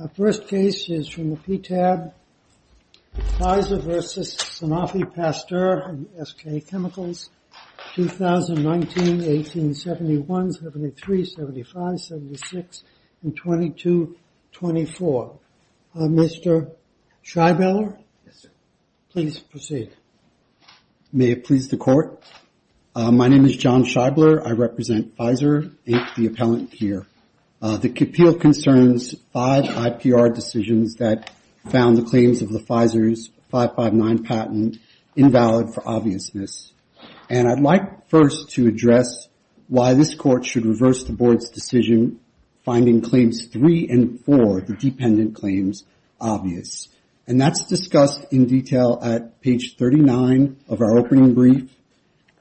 Our first case is from the PTAB, Pfizer v. Sanofi Pasteur and SK Chemicals, 2019, 1871, 73, 75, 76, and 22, 24. Mr. Scheibler, please proceed. May it please the court. My name is John Scheibler. I represent Pfizer, the appellant here. The appeal concerns five IPR decisions that found the claims of the Pfizer's 559 patent invalid for obviousness. And I'd like first to address why this court should reverse the board's decision, finding claims three and four, the dependent claims, obvious. And that's discussed in detail at page 39 of our opening brief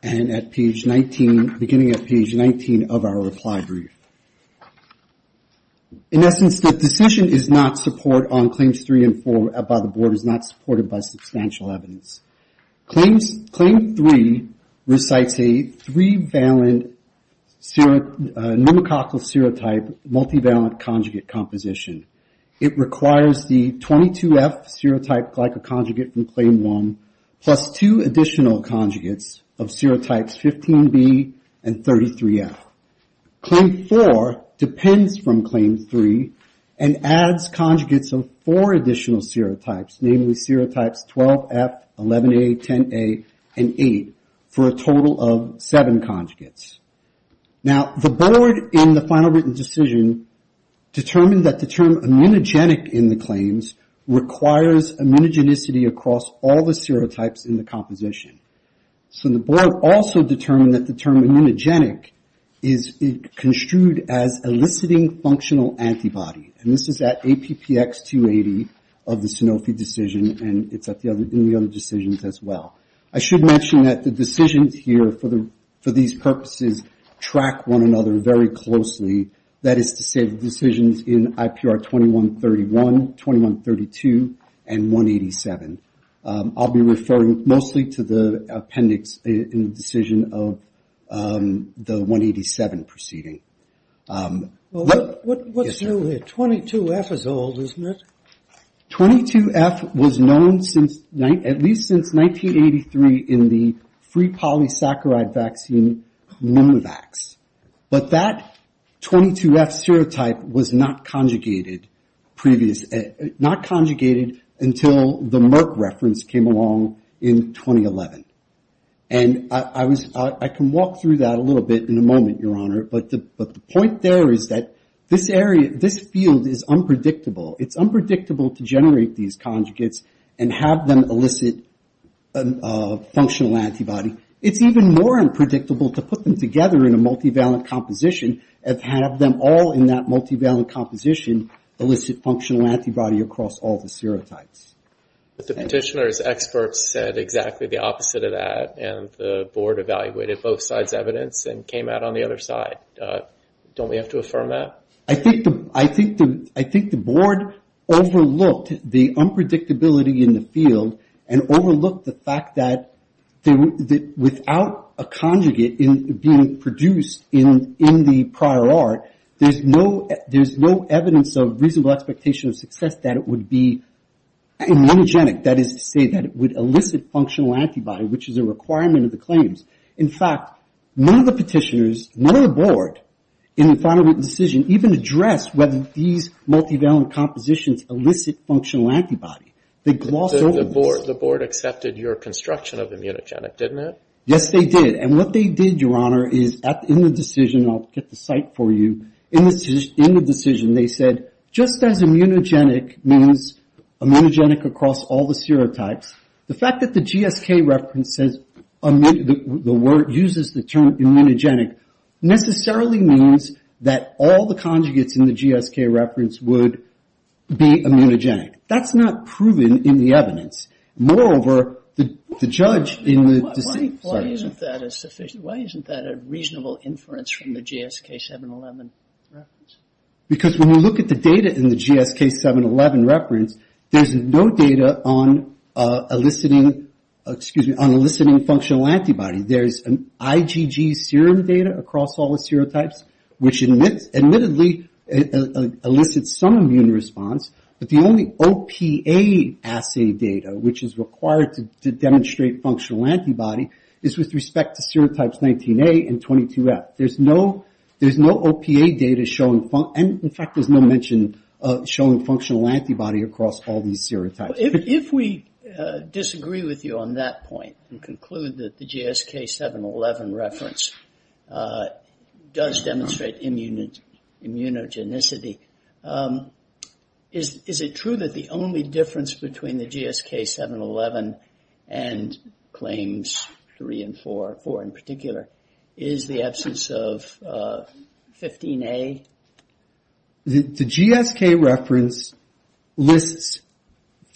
and at page 19, beginning at page 19 of our reply brief. In essence, the decision is not support on claims three and four by the board, is not supported by substantial evidence. Claim three recites a three-valent pneumococcal serotype multivalent conjugate composition. It requires the 22F serotype glycoconjugate from claim one plus two additional conjugates of serotypes 15B and 33F. Claim four depends from claim three and adds conjugates of four additional serotypes, namely serotypes 12F, 11A, 10A, and 8, for a total of seven conjugates. Now, the board in the final written decision determined that the term immunogenic in the claims requires immunogenicity across all the serotypes in the composition. So the board also determined that the term immunogenic is construed as eliciting functional antibody. And this is at APPX 280 of the Sanofi decision, and it's in the other decisions as well. I should mention that the decisions here for these purposes track one another very closely. That is to say the decisions in IPR 2131, 2132, and 187. I'll be referring mostly to the appendix in the decision of the 187 proceeding. What's new here? 22F is old, isn't it? 22F was known at least since 1983 in the free polysaccharide vaccine Mimivax. But that 22F serotype was not conjugated until the Merck reference came along in 2011. And I can walk through that a little bit in a moment, Your Honor, but the point there is that this field is unpredictable. It's unpredictable to generate these conjugates and have them elicit a functional antibody. It's even more unpredictable to put them together in a multivalent composition and have them all in that multivalent composition elicit functional antibody across all the serotypes. But the petitioner's experts said exactly the opposite of that, and the board evaluated both sides' evidence and came out on the other side. Don't we have to affirm that? I think the board overlooked the unpredictability in the field and overlooked the fact that without a conjugate being produced in the prior art, there's no evidence of reasonable expectation of success that it would be immunogenic. That is to say that it would elicit functional antibody, which is a requirement of the claims. In fact, none of the petitioners, none of the board in the final written decision even addressed whether these multivalent compositions elicit functional antibody. They glossed over this. The board accepted your construction of immunogenic, didn't it? Yes, they did, and what they did, Your Honor, is in the decision, and I'll get the site for you, in the decision, they said, just as immunogenic means immunogenic across all the serotypes, the fact that the GSK reference uses the term immunogenic necessarily means that all the conjugates in the GSK reference would be immunogenic. That's not proven in the evidence. Moreover, the judge in the decision. Why isn't that a reasonable inference from the GSK 711 reference? Because when you look at the data in the GSK 711 reference, there's no data on eliciting, excuse me, on eliciting functional antibody. There's an IgG serum data across all the serotypes, which admittedly elicits some immune response, but the only OPA assay data, which is required to demonstrate functional antibody, is with respect to serotypes 19A and 22F. There's no OPA data showing, and in fact there's no mention showing functional antibody across all these serotypes. If we disagree with you on that point and conclude that the GSK 711 reference does demonstrate immunogenicity, is it true that the only difference between the GSK 711 and claims 3 and 4, 4 in particular, is the absence of 15A? The GSK reference lists,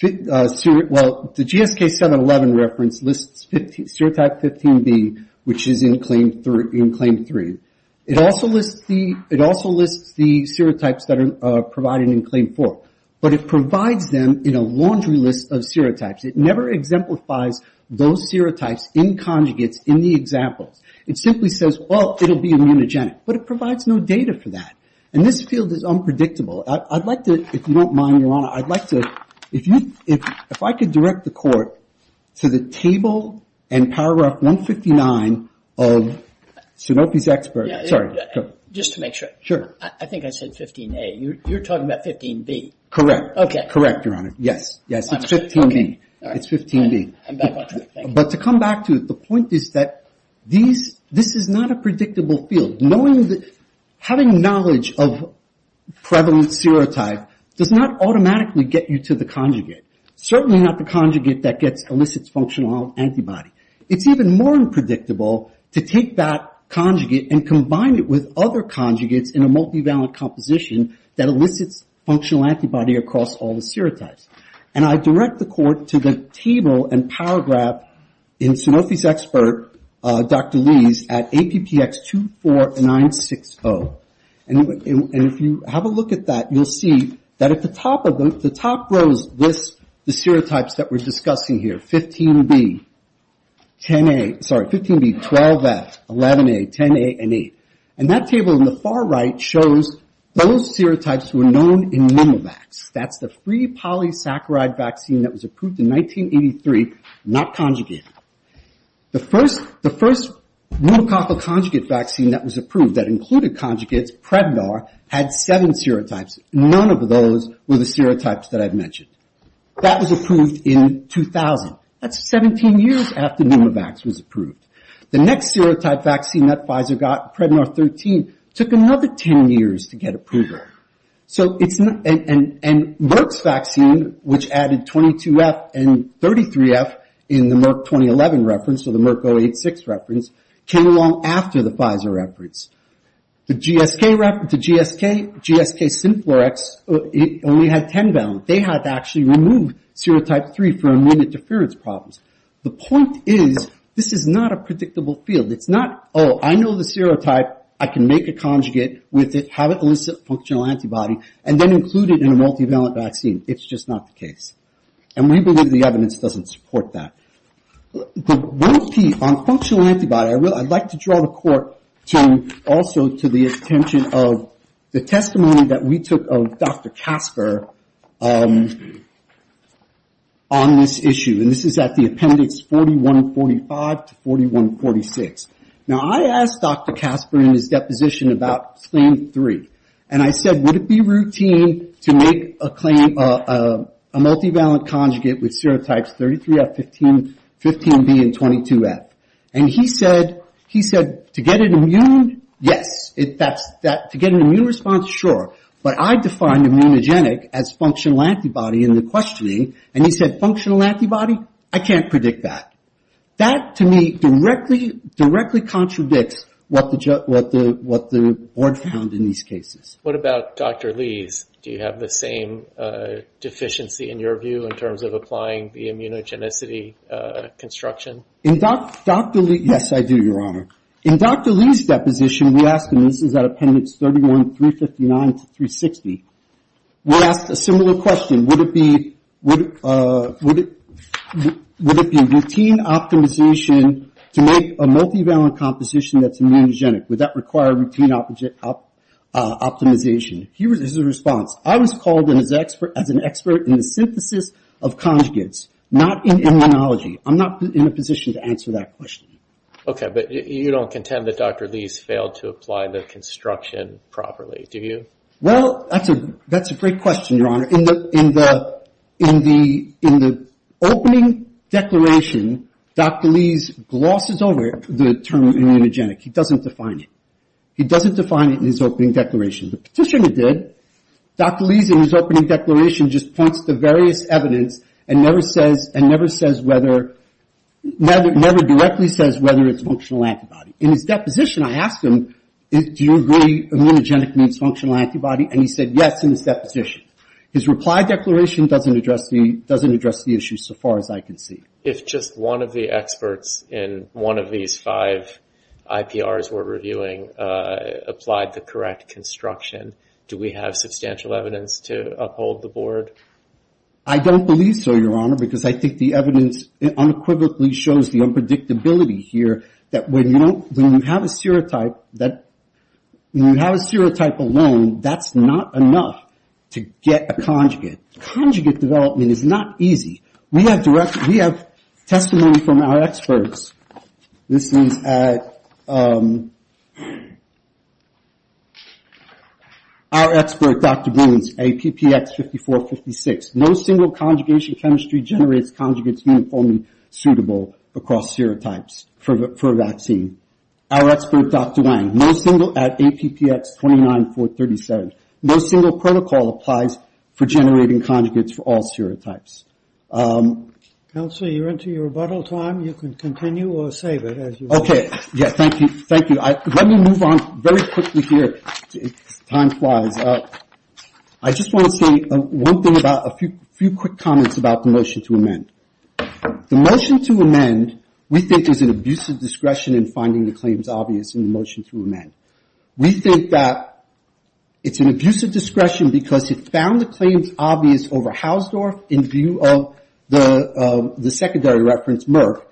well, the GSK 711 reference lists serotype 15B, which is in claim 3. It also lists the serotypes that are provided in claim 4, but it provides them in a laundry list of serotypes. It never exemplifies those serotypes in conjugates in the examples. It simply says, well, it will be immunogenic, but it provides no data for that. And this field is unpredictable. I'd like to, if you don't mind, Your Honor, I'd like to, if I could direct the court to the table and paragraph 159 of Seropi's expert, sorry. Just to make sure. I think I said 15A. You're talking about 15B. Correct. Correct, Your Honor. Yes, it's 15B. But to come back to it, the point is that this is not a predictable field. Having knowledge of prevalent serotype does not automatically get you to the conjugate. Certainly not the conjugate that elicits functional antibody. It's even more unpredictable to take that conjugate and combine it with other conjugates in a multivalent composition that elicits functional antibody across all the serotypes. And I direct the court to the table and paragraph in Seropi's expert, Dr. Lee's, at APPX 24960. And if you have a look at that, you'll see that at the top of them, the top rows list the serotypes that we're discussing here. 15B, 12F, 11A, 10A, and 8. And that table in the far right shows those serotypes that were known in Mimivax. That's the free polysaccharide vaccine that was approved in 1983, not conjugate. The first mutococcal conjugate vaccine that was approved that included conjugates, Prednar, had seven serotypes. None of those were the serotypes that I've mentioned. That was approved in 2000. That's 17 years after Mimivax was approved. The next serotype vaccine that Pfizer got, Prednar 13, took another 10 years to get approval. And Merck's vaccine, which added 22F and 33F in the Merck 2011 reference, or the Merck 086 reference, came along after the Pfizer reference. The GSK, GSK-Synflurex, only had 10 bound. They had to actually remove serotype 3 for immune interference problems. The point is, this is not a predictable field. It's not, oh, I know the serotype, I can make a conjugate with it, have it elicit a functional antibody, and then include it in a multivalent vaccine. It's just not the case. And we believe the evidence doesn't support that. On functional antibody, I'd like to draw the court also to the attention of the testimony that we took of Dr. Casper on this issue. And this is at the appendix 4145 to 4146. Now, I asked Dr. Casper in his deposition about claim three. And I said, would it be routine to make a claim, a multivalent conjugate with serotypes 33F, 15B, and 22F? And he said, to get an immune, yes. To get an immune response, sure. But I defined immunogenic as functional antibody in the questioning. And he said, functional antibody, I can't predict that. That, to me, directly contradicts what the board found in these cases. What about Dr. Lee's? Do you have the same deficiency, in your view, in terms of applying the immunogenicity construction? In Dr. Lee's, yes, I do, Your Honor. In Dr. Lee's deposition, we asked him, this is at appendix 31359 to 360, we asked a similar question. Would it be routine optimization to make a multivalent composition that's immunogenic? Would that require routine optimization? Here is his response. I was called as an expert in the synthesis of conjugates, not in immunology. I'm not in a position to answer that question. Okay, but you don't contend that Dr. Lee's failed to apply the construction properly, do you? Well, that's a great question, Your Honor. In the opening declaration, Dr. Lee's glosses over the term immunogenic. He doesn't define it. He doesn't define it in his opening declaration. The petitioner did. Dr. Lee's, in his opening declaration, just points to various evidence and never says whether, never directly says whether it's functional antibody. In his deposition, I asked him, do you agree immunogenic means functional antibody, and he said yes in his deposition. His reply declaration doesn't address the issue so far as I can see. If just one of the experts in one of these five IPRs we're reviewing applied the correct construction, do we have substantial evidence to uphold the board? I don't believe so, Your Honor, because I think the evidence unequivocally shows the unpredictability here that when you have a serotype alone, that's not enough to get a conjugate. Conjugate development is not easy. We have testimony from our experts. Our expert, Dr. Boones, APPX5456, no single conjugation chemistry generates conjugates uniformly suitable across serotypes for a vaccine. Our expert, Dr. Wang, no single, at APPX29437, no single protocol applies for generating conjugates for all serotypes. Counselor, you're into your rebuttal time. You can continue or save it as you wish. Thank you. Let me move on very quickly here, time flies. I just want to say one thing about, a few quick comments about the motion to amend. The motion to amend, we think, is an abusive discretion in finding the claims obvious in the motion to amend. We think that it's an abusive discretion because it found the claims obvious over Hausdorff in view of the secondary reference, Merck,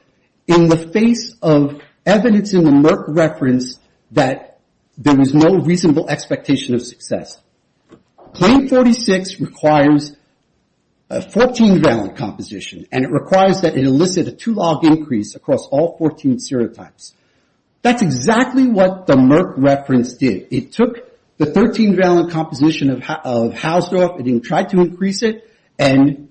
in the face of evidence in the Merck reference that there was no reasonable expectation of success. Claim 46 requires a 14-valid composition, and it requires that it elicit a two-log increase across all 14 serotypes. That's exactly what the Merck reference did. It took the 13-valid composition of Hausdorff, it didn't try to increase it, and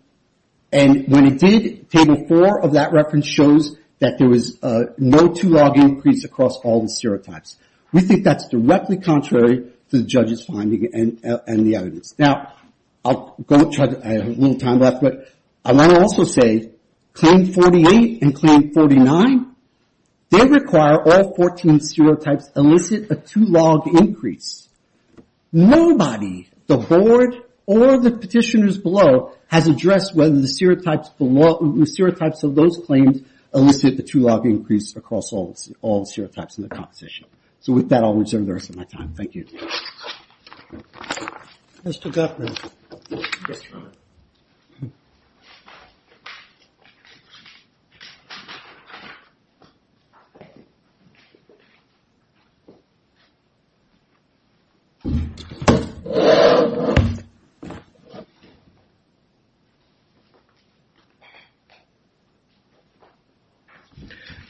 when it did, Table 4 of that reference shows that there was no two-log increase across all the serotypes. We think that's directly contrary to the judge's finding and the evidence. Now, I have a little time left, but I want to also say, Claim 48 and Claim 49, they require all 14 serotypes elicit a two-log increase. Nobody, the board or the petitioners below, has addressed whether the serotypes of those claims elicit a two-log increase across all serotypes in the composition. With that, I'll reserve the rest of my time. Thank you. Thank you. Mr. Gutmann. Yes, Your Honor.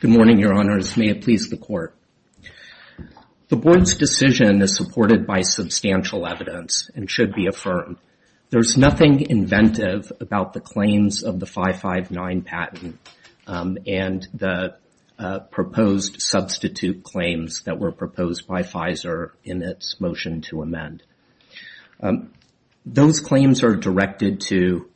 Good morning, Your Honors. May it please the Court. The board's decision is supported by substantial evidence and should be affirmed. There's nothing inventive about the claims of the 559 patent and the proposed substitute claims that were proposed by Pfizer in its motion to amend. Those claims are directed to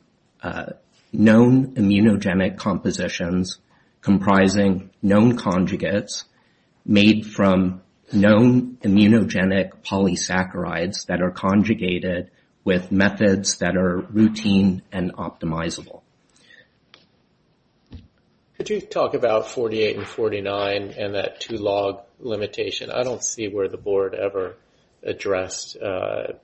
known immunogenic compositions comprising known conjugates made from known immunogenic polysaccharides that are routine and optimizable. Could you talk about 48 and 49 and that two-log limitation? I don't see where the board ever addressed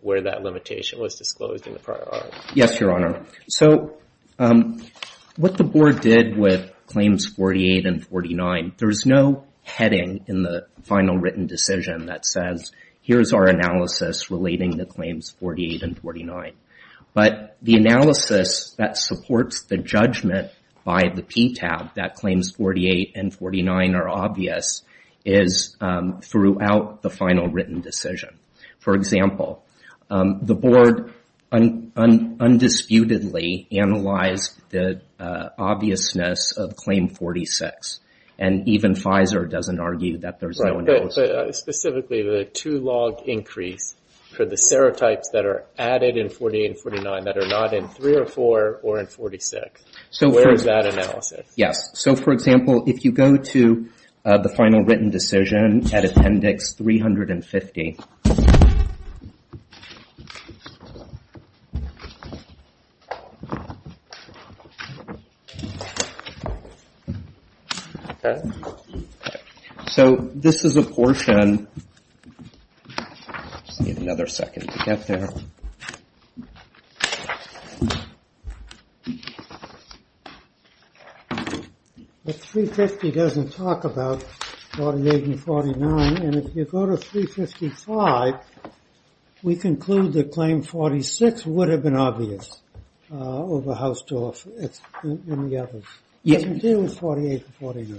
where that limitation was disclosed in the prior article. Yes, Your Honor. So, what the board did with Claims 48 and 49, there's no heading in the final written decision that says, here's our analysis relating to Claims 48 and 49. But the analysis that supports the judgment by the PTAB that Claims 48 and 49 are obvious is throughout the final written decision. For example, the board undisputedly analyzed the obviousness of Claim 46 and even Pfizer doesn't argue that there's no analysis. Specifically, the two-log increase for the serotypes that are added in 48 and 49 that are not in 304 or in 46. Where is that analysis? Yes. So, for example, if you go to the final written decision at Appendix 350. So, this is a portion. I just need another second to get there. 350 doesn't talk about 48 and 49. And if you go to 356, it doesn't talk about 48 and 49. If you go to 35, we conclude that Claim 46 would have been obvious over Hausdorff and the others.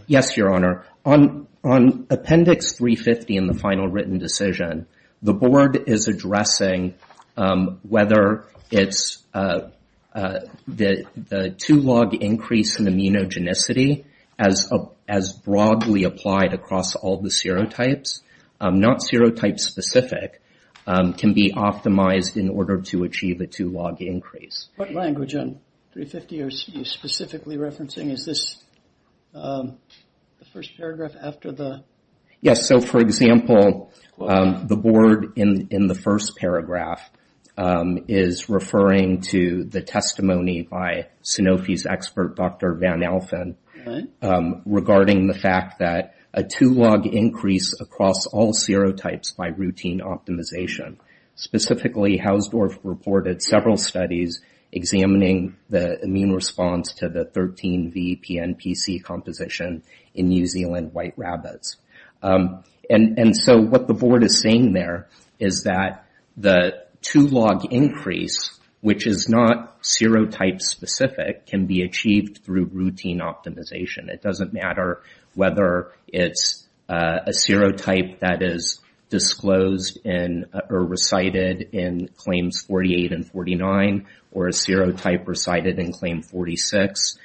Yes, Your Honor. On Appendix 350 in the final written decision, the board is addressing whether it's the two-log increase in immunogenicity as broadly applied across all the serotypes. Not serotype-specific can be optimized in order to achieve a two-log increase. What language on 350 are you specifically referencing? Is this the first paragraph after the... Yes. So, for example, the board in the first paragraph is referring to the testimony by Sanofi's expert, Dr. Van Alphen, regarding the fact that a two-log increase across all serotypes by routine optimization. Specifically, Hausdorff reported several studies examining the immune response to the 13VPNPC composition in New Zealand white rabbits. And so, what the board is saying there is that the two-log increase, which is not serotype-specific, can be achieved through routine optimization. It doesn't matter whether it's a serotype that is disclosed or recited in Claims 48 and 49, or a serotype recited in Claim 46.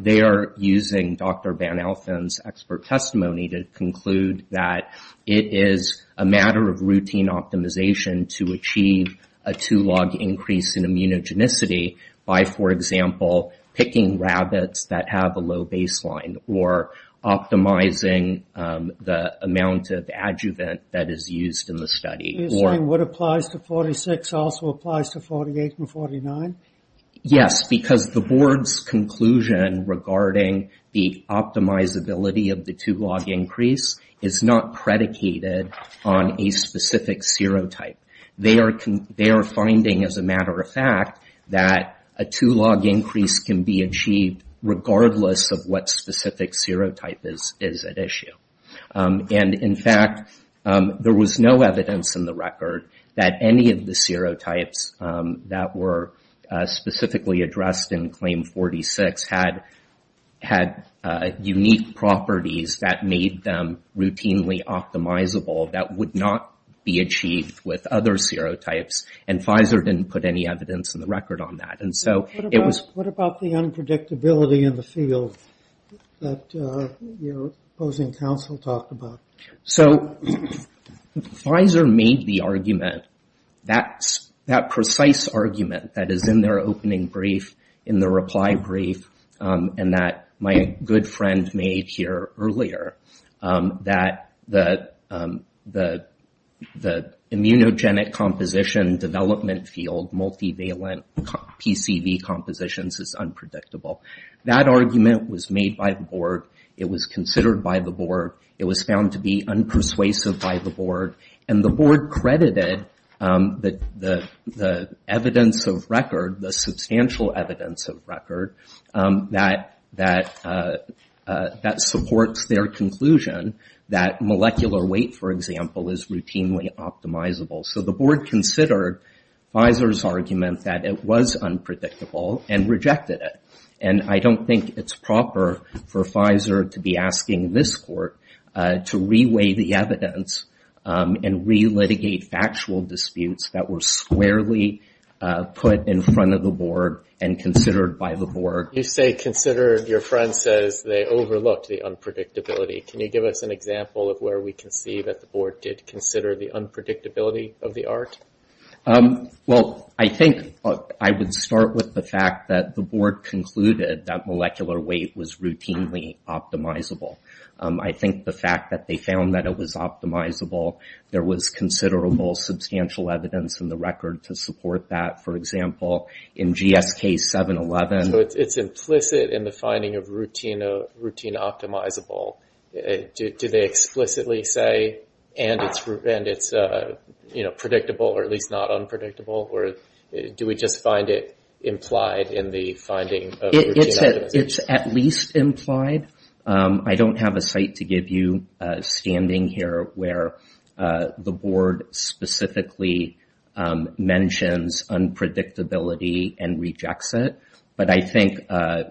They are using Dr. Van Alphen's expert testimony to conclude that it is a matter of routine optimization to achieve a two-log increase in immunogenicity by, for example, picking rabbits that have a low baseline or optimizing the amount of adjuvant that is used in the study. You're saying what applies to 46 also applies to 48 and 49? Yes, because the board's conclusion regarding the optimizability of the two-log increase is not predicated on a specific serotype. They are finding, as a matter of fact, that a two-log increase can be achieved regardless of what specific serotype is at issue. And in fact, there was no evidence in the record that any of the serotypes that were specifically addressed in Claim 46 had unique properties that made them routinely optimizable that would not be achieved with other serotypes. And Pfizer didn't put any evidence in the record on that. What about the unpredictability in the field that your opposing counsel talked about? So Pfizer made the argument, that precise argument that is in their opening brief, in their reply brief, and that my good friend made here earlier, that the immunogenic composition of serotypes in development field, multivalent PCV compositions, is unpredictable. That argument was made by the board. It was considered by the board. It was found to be unpersuasive by the board. And the board credited the evidence of record, the substantial evidence of record, that supports their conclusion that molecular weight, for example, is routinely optimizable. So the board considered Pfizer's argument that it was unpredictable and rejected it. And I don't think it's proper for Pfizer to be asking this court to re-weigh the evidence and re-litigate factual disputes that were squarely put in front of the board and considered by the board. You say considered. Your friend says they overlooked the unpredictability. Do you consider the unpredictability of the art? Well, I think I would start with the fact that the board concluded that molecular weight was routinely optimizable. I think the fact that they found that it was optimizable, there was considerable substantial evidence in the record to support that. For example, in GSK 711. So it's implicit in the finding of routine optimizable. Do they explicitly say and it's predictable or at least not unpredictable? Or do we just find it implied in the finding of routine optimizable? It's at least implied. I don't have a site to give you standing here where the board specifically mentions unpredictability and rejects it. But I think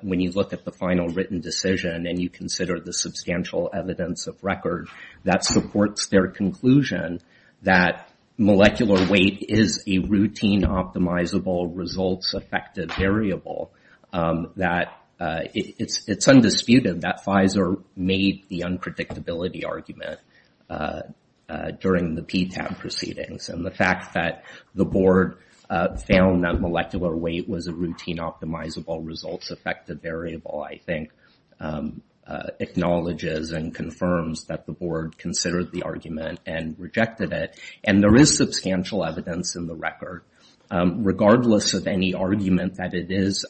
when you look at the final written decision and you consider the substantial evidence of record that supports their conclusion that molecular weight is a routine optimizable results effective variable, that it's undisputed that Pfizer made the unpredictability argument during the PTAB proceedings. And the fact that the board found that molecular weight was a routine optimizable results effective variable, I think, acknowledges and confirms that the board considered the argument and rejected it. And there is substantial evidence in the record, regardless of any argument that it is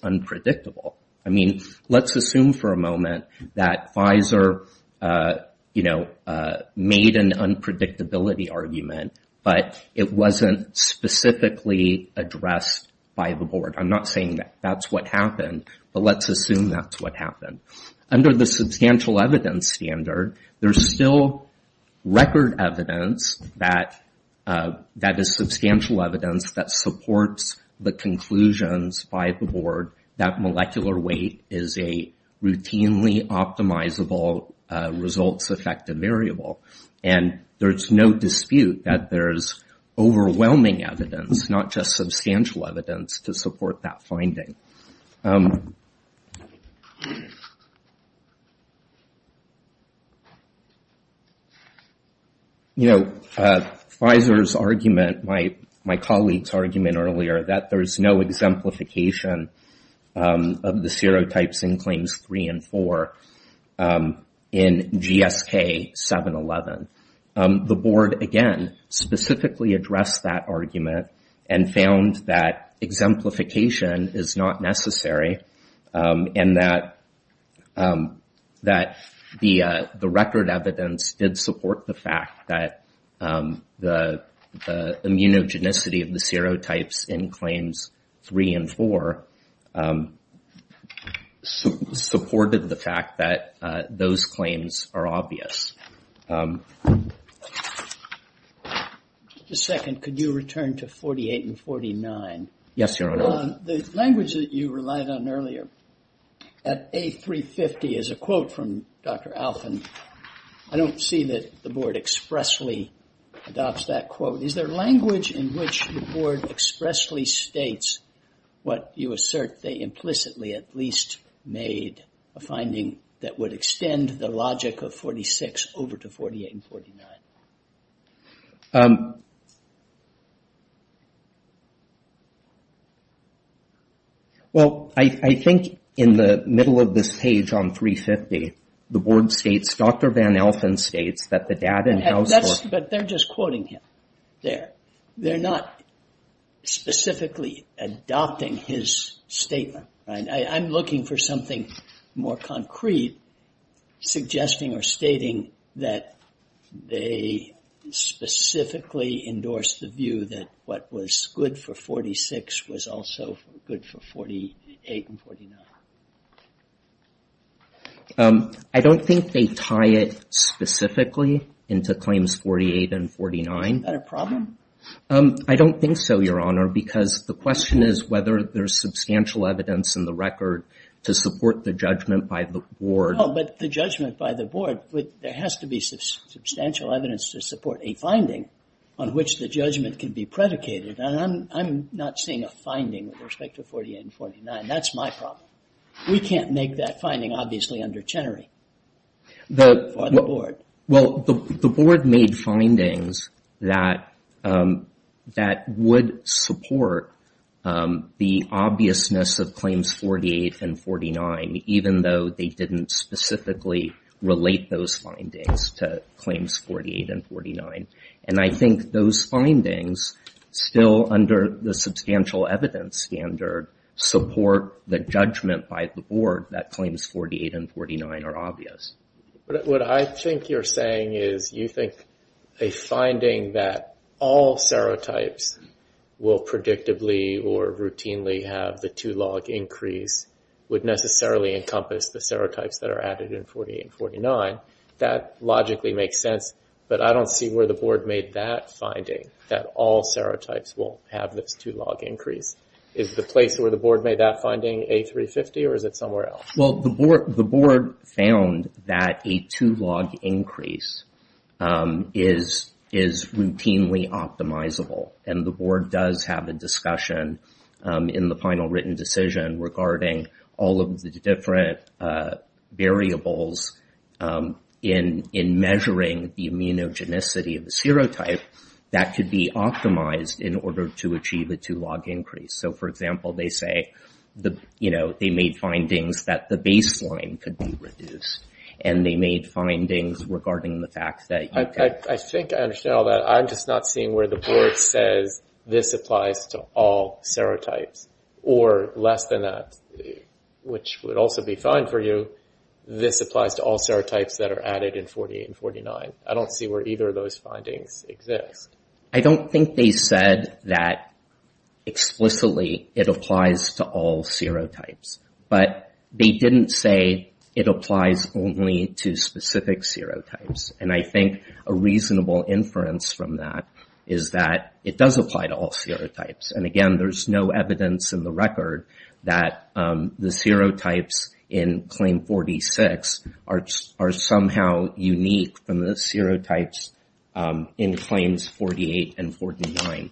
that Pfizer made an unpredictability argument, but it wasn't specifically addressed by the board. I'm not saying that's what happened, but let's assume that's what happened. Under the substantial evidence standard, there's still record evidence that is substantial evidence that supports the conclusions by the board that molecular weight is a routinely optimizable results effective variable. And there's no dispute that there's overwhelming evidence, not just substantial evidence, to support that finding. You know, Pfizer's argument, my colleague's argument earlier, that there's no exemplification of the serotypes in claims three and four in GSK 711. The board, again, specifically addressed that argument and found that exemplification is not necessary and that the record evidence did support the fact that the claims are obvious. Just a second. Could you return to 48 and 49? Yes, Your Honor. The language that you relied on earlier at A350 is a quote from Dr. Alphin. I don't see that the board expressly adopts that quote. Is there language in which the board expressly states what you assert they implicitly, at least, made a finding that would extend the logic of 46 over to 48 and 49? Well, I think in the middle of this page on 350, the board states, Dr. Van Alphin states, that the data that's in house for... But they're just quoting him there. They're not specifically adopting his statement, right? I'm looking for something more concrete, suggesting or stating that they specifically endorsed the view that what was good for 46 was also good for 48 and 49. I don't think they tie it specifically into claims 48 and 49. Is that a problem? I don't think so, Your Honor, because the question is whether there's substantial evidence in the record to support the judgment by the board. No, but the judgment by the board, there has to be substantial evidence to support a finding on which the judgment can be made. We can't make that finding, obviously, under Chenery. Well, the board made findings that would support the obviousness of claims 48 and 49, even though they didn't specifically relate those findings to claims 48 and 49. And I think those findings, still under the substantial evidence standard, support the judgment by the board that claims 48 and 49 are obvious. What I think you're saying is you think a finding that all serotypes will predictably or routinely have the two log increase would necessarily encompass the serotypes that are added in 48 and 49. That logically makes sense, but I don't see where the board made that finding, that all serotypes will have this two log increase. Is the place where the board made that finding A350, or is it somewhere else? Well, the board found that a two log increase is routinely optimizable, and the board does have a discussion in the final written decision regarding all of the different variables in measuring the immunogenicity of the serotype that could be optimized in order to achieve a two log increase. So, for example, they say they made findings that the baseline could be reduced, and they made findings regarding the fact that... I think I understand all that. I'm just not seeing where the board says this applies to all serotypes, or less than that, which would also be fine for you, this applies to all serotypes that are added in 48 and 49. I don't see where either of those findings exist. I don't think they said that explicitly it applies to all serotypes, but they didn't say it applies only to specific serotypes, and I think a reasonable inference from that is that it does apply to all serotypes, and again, there's no evidence in the record that the serotypes in claim 46 are somehow unique from the serotypes in claim 46. There are no unique serotypes in claims 48 and 49.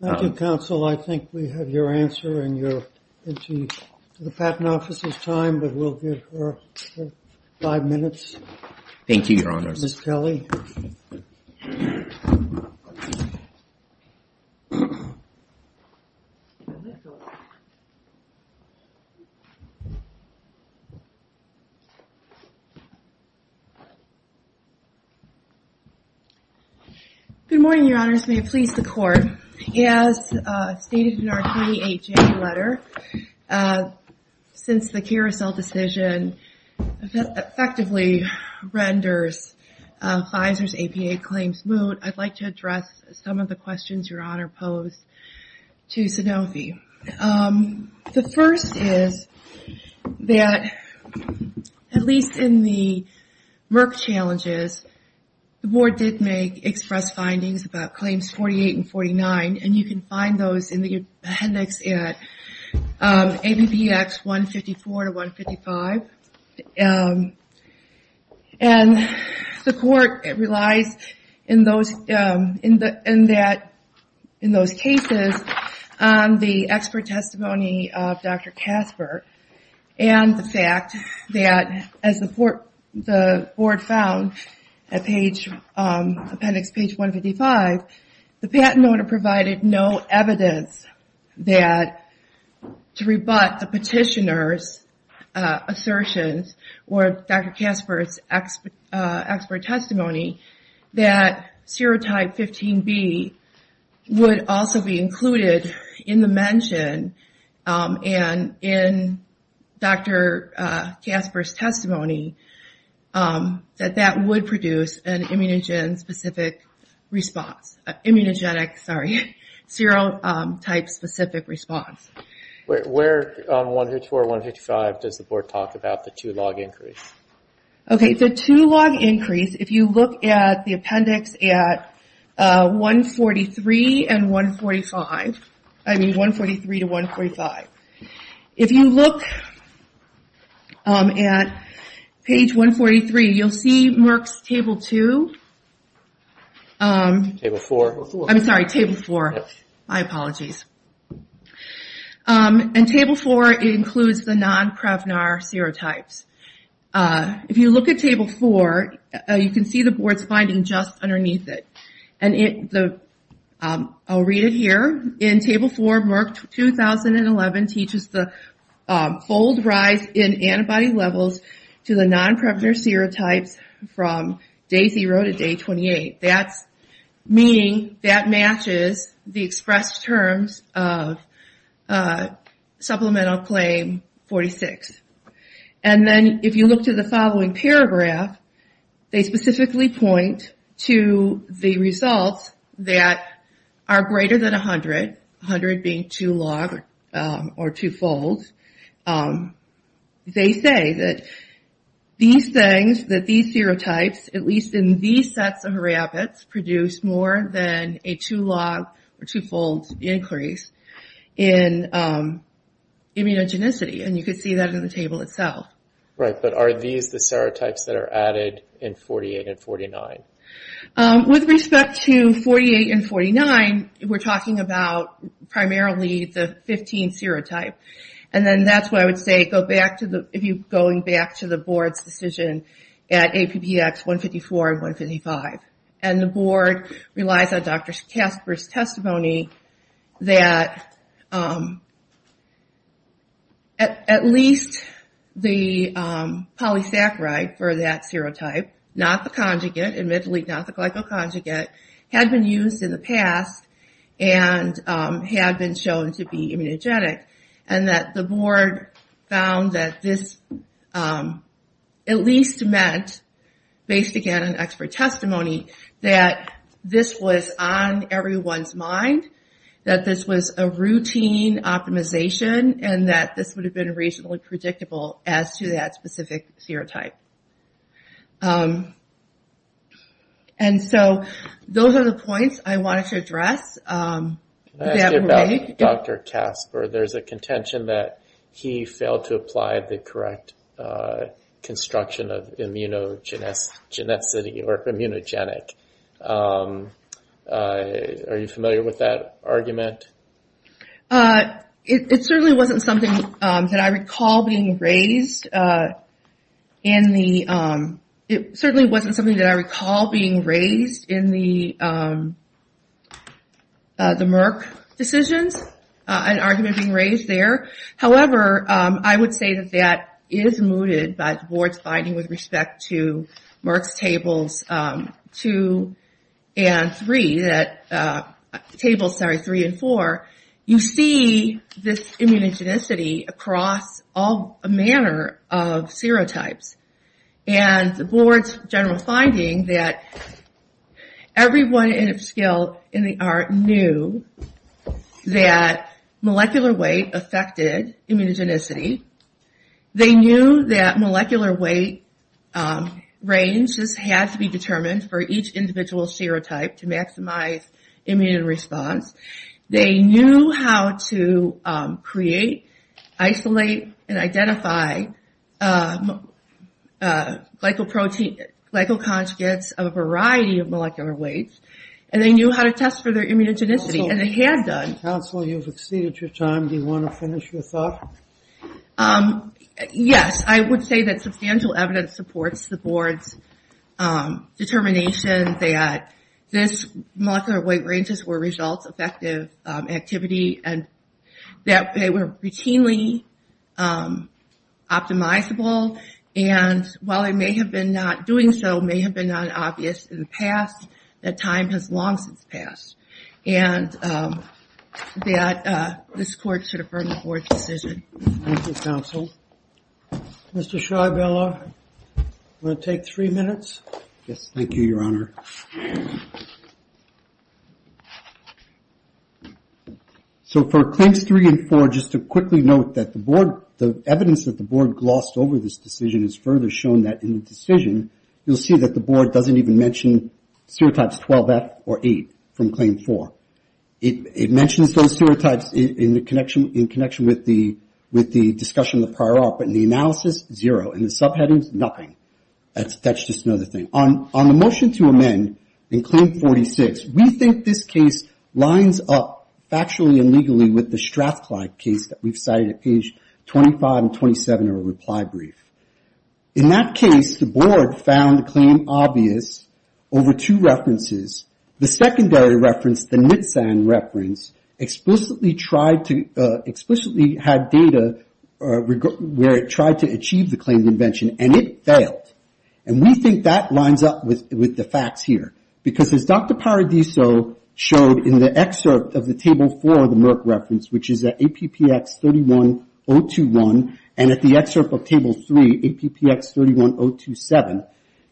Thank you, counsel. I think we have your answer, and you're into the patent officer's time, but we'll give her five minutes. Thank you, your honors. Good morning, your honors. May it please the court. As stated in our 38-J letter, since the carousel decision effectively renders Pfizer's APA claims moot, I'd like to address some of the questions your honor posed to Sanofi. The first is that, at least in the Merck challenges, there is no evidence that Pfizer's APA claims moot. The board did make express findings about claims 48 and 49, and you can find those in the appendix at ABBX 154-155. And the court relies in those cases on the expert testimony of Dr. Casper and the fact that, as the board found at page 155, the patent owner provided no evidence that, to rebut the petitioner's assertions or Dr. Casper's expert testimony, that serotype 15B would also be included in the mention and in Dr. Casper's testimony, that that would produce an immediate immunogenic serotype specific response. Where on 154-155 does the board talk about the two log increase? Okay, the two log increase, if you look at the appendix at 143-145, if you look at page 143, you'll see Merck's table 2. I'm sorry, table 4. My apologies. And table 4 includes the non-PREVNAR serotypes. If you look at table 4, you can see the board's finding just underneath it. I'll read it here. In table 4, Merck 2011 teaches the fold rise in antibody levels to the non-PREVNAR serotypes from day 0 to day 28. That's meaning that matches the expressed terms of supplemental claim 46. And then if you look to the following paragraph, they specifically point to the results that are greater than 100. 100 being two log or two folds. They say that these things, that these serotypes, at least in these sets of rabbits, produce more than a two log or two folds increase in immunogenicity. And you can see that in the table itself. With respect to 48 and 49, we're talking about primarily the 15 serotype. And then that's why I would say, going back to the board's decision at APPX 154 and 155. And the board relies on Dr. Casper's testimony that at least the polysaccharide for that serotype, not the conjugate, admittedly not the glycoconjugate, had been used in the past and had been shown to be immunogenic. And that the board found that this at least meant, based again on expert testimony, that this was on everyone's mind. That this was a routine optimization and that this would have been reasonably predictable as to that specific serotype. And so those are the points I wanted to address. There's a contention that he failed to apply the correct construction of immunogenicity. Are you familiar with that argument? It certainly wasn't something that I recall being raised in the Merck decisions. An argument being raised there. However, I would say that that is mooted by the board's finding with respect to Merck's tables 2 and 3, tables 3 and 4. You see this immunogenicity across all manner of serotypes. And the board's general finding that everyone in its guild in the ART knew that this was a routine optimization. They knew that molecular weight affected immunogenicity. They knew that molecular weight ranges had to be determined for each individual serotype to maximize immune response. They knew how to create, isolate, and identify glycoconjugates of a variety of molecular weights. And they knew how to test for their immunogenicity and they had done. Yes, I would say that substantial evidence supports the board's determination that this molecular weight ranges were results effective activity. And that they were routinely optimizable. And while it may have been not doing so, may have been not obvious in the past, that time has long since passed. And that this court should affirm the board's decision. Thank you, counsel. Mr. Schreiberler, you want to take three minutes? Yes, thank you, your honor. So for claims 3 and 4, just to quickly note that the board, the evidence that the board glossed over this decision is further shown that in the decision, you'll see that the board doesn't even mention serotypes 12F or 8 from claim 4. It mentions those serotypes in connection with the discussion of the prior ART, but in the analysis, zero. In the subheadings, nothing. That's just another thing. On the motion to amend in claim 46, we think this case lines up factually and legally with the Strathclyde case that we've cited at page 25 and 27 of our reply brief. In that case, the board found the claim obvious over two references. The secondary reference, the NITSAN reference, explicitly tried to, explicitly had data where it tried to achieve the claim that it did. And it failed. And we think that lines up with the facts here. Because as Dr. Paradiso showed in the excerpt of the table 4 of the Merck reference, which is at APPX 31021, and at the excerpt of table 3, APPX 31027,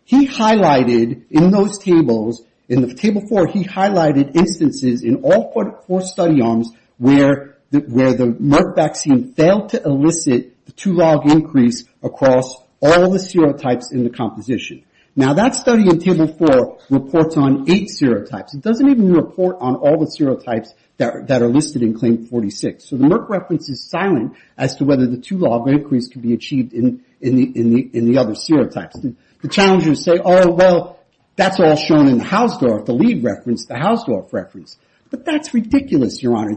he highlighted in those tables, in the table 4, he highlighted instances in all four study arms where the Merck vaccine failed to elicit the two log increase across all four study arms. All the serotypes in the composition. Now, that study in table 4 reports on eight serotypes. It doesn't even report on all the serotypes that are listed in claim 46. So the Merck reference is silent as to whether the two log increase can be achieved in the other serotypes. The challengers say, oh, well, that's all shown in Hausdorff, the lead reference, the Hausdorff reference. But that's ridiculous, Your Honor.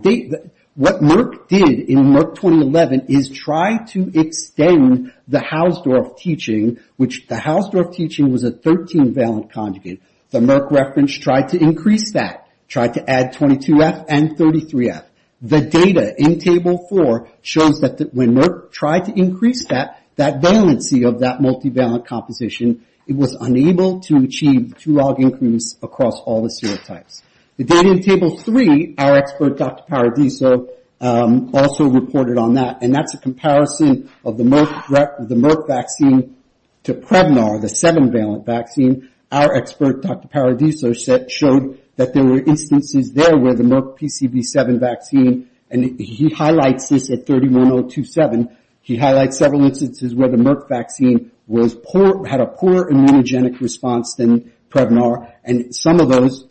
What Merck did in Merck 2011 is try to extend the Hausdorff teaching, which the Hausdorff teaching was a 13-valent conjugate. The Merck reference tried to increase that. Tried to add 22F and 33F. The data in table 4 shows that when Merck tried to increase that, that valency of that multivalent composition, it was unable to achieve two log increase across all the serotypes. The data in table 3, our expert, Dr. Paradiso, also reported on that. And that's a comparison of the Merck vaccine to Prevnar, the 7-valent vaccine. Our expert, Dr. Paradiso, showed that there were instances there where the Merck PCV7 vaccine, and he highlights this at 31027, he highlights several instances where the Merck vaccine had a poor immunogenic response than Prevnar. And some of those,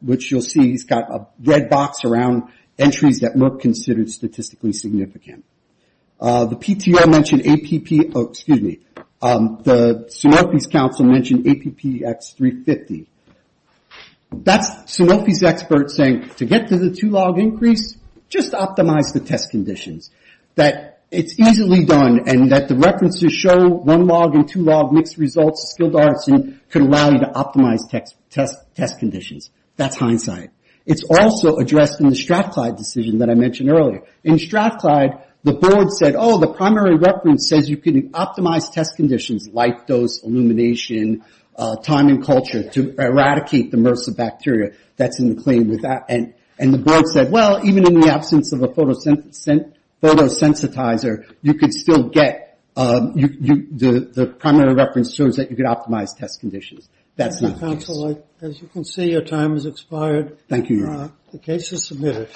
which you'll see, he's got a red box around entries that Merck considered statistically significant. The PTO mentioned APP, oh, excuse me. The Serophy's Council mentioned APPX350. That's Serophy's experts saying, to get to the two log increase, just optimize the test conditions. That it's easily done, and that the references show one log and two log mixed results, skilled arts, and could allow you to optimize test conditions. That's hindsight. It's also addressed in the Strathclyde decision that I mentioned earlier. In Strathclyde, the board said, oh, the primary reference says you can optimize test conditions, light dose, illumination, time and culture, to eradicate the MRSA bacteria. And the board said, well, even in the absence of a photosensitizer, you could still get, the primary reference shows that you could optimize test conditions. That's not the case.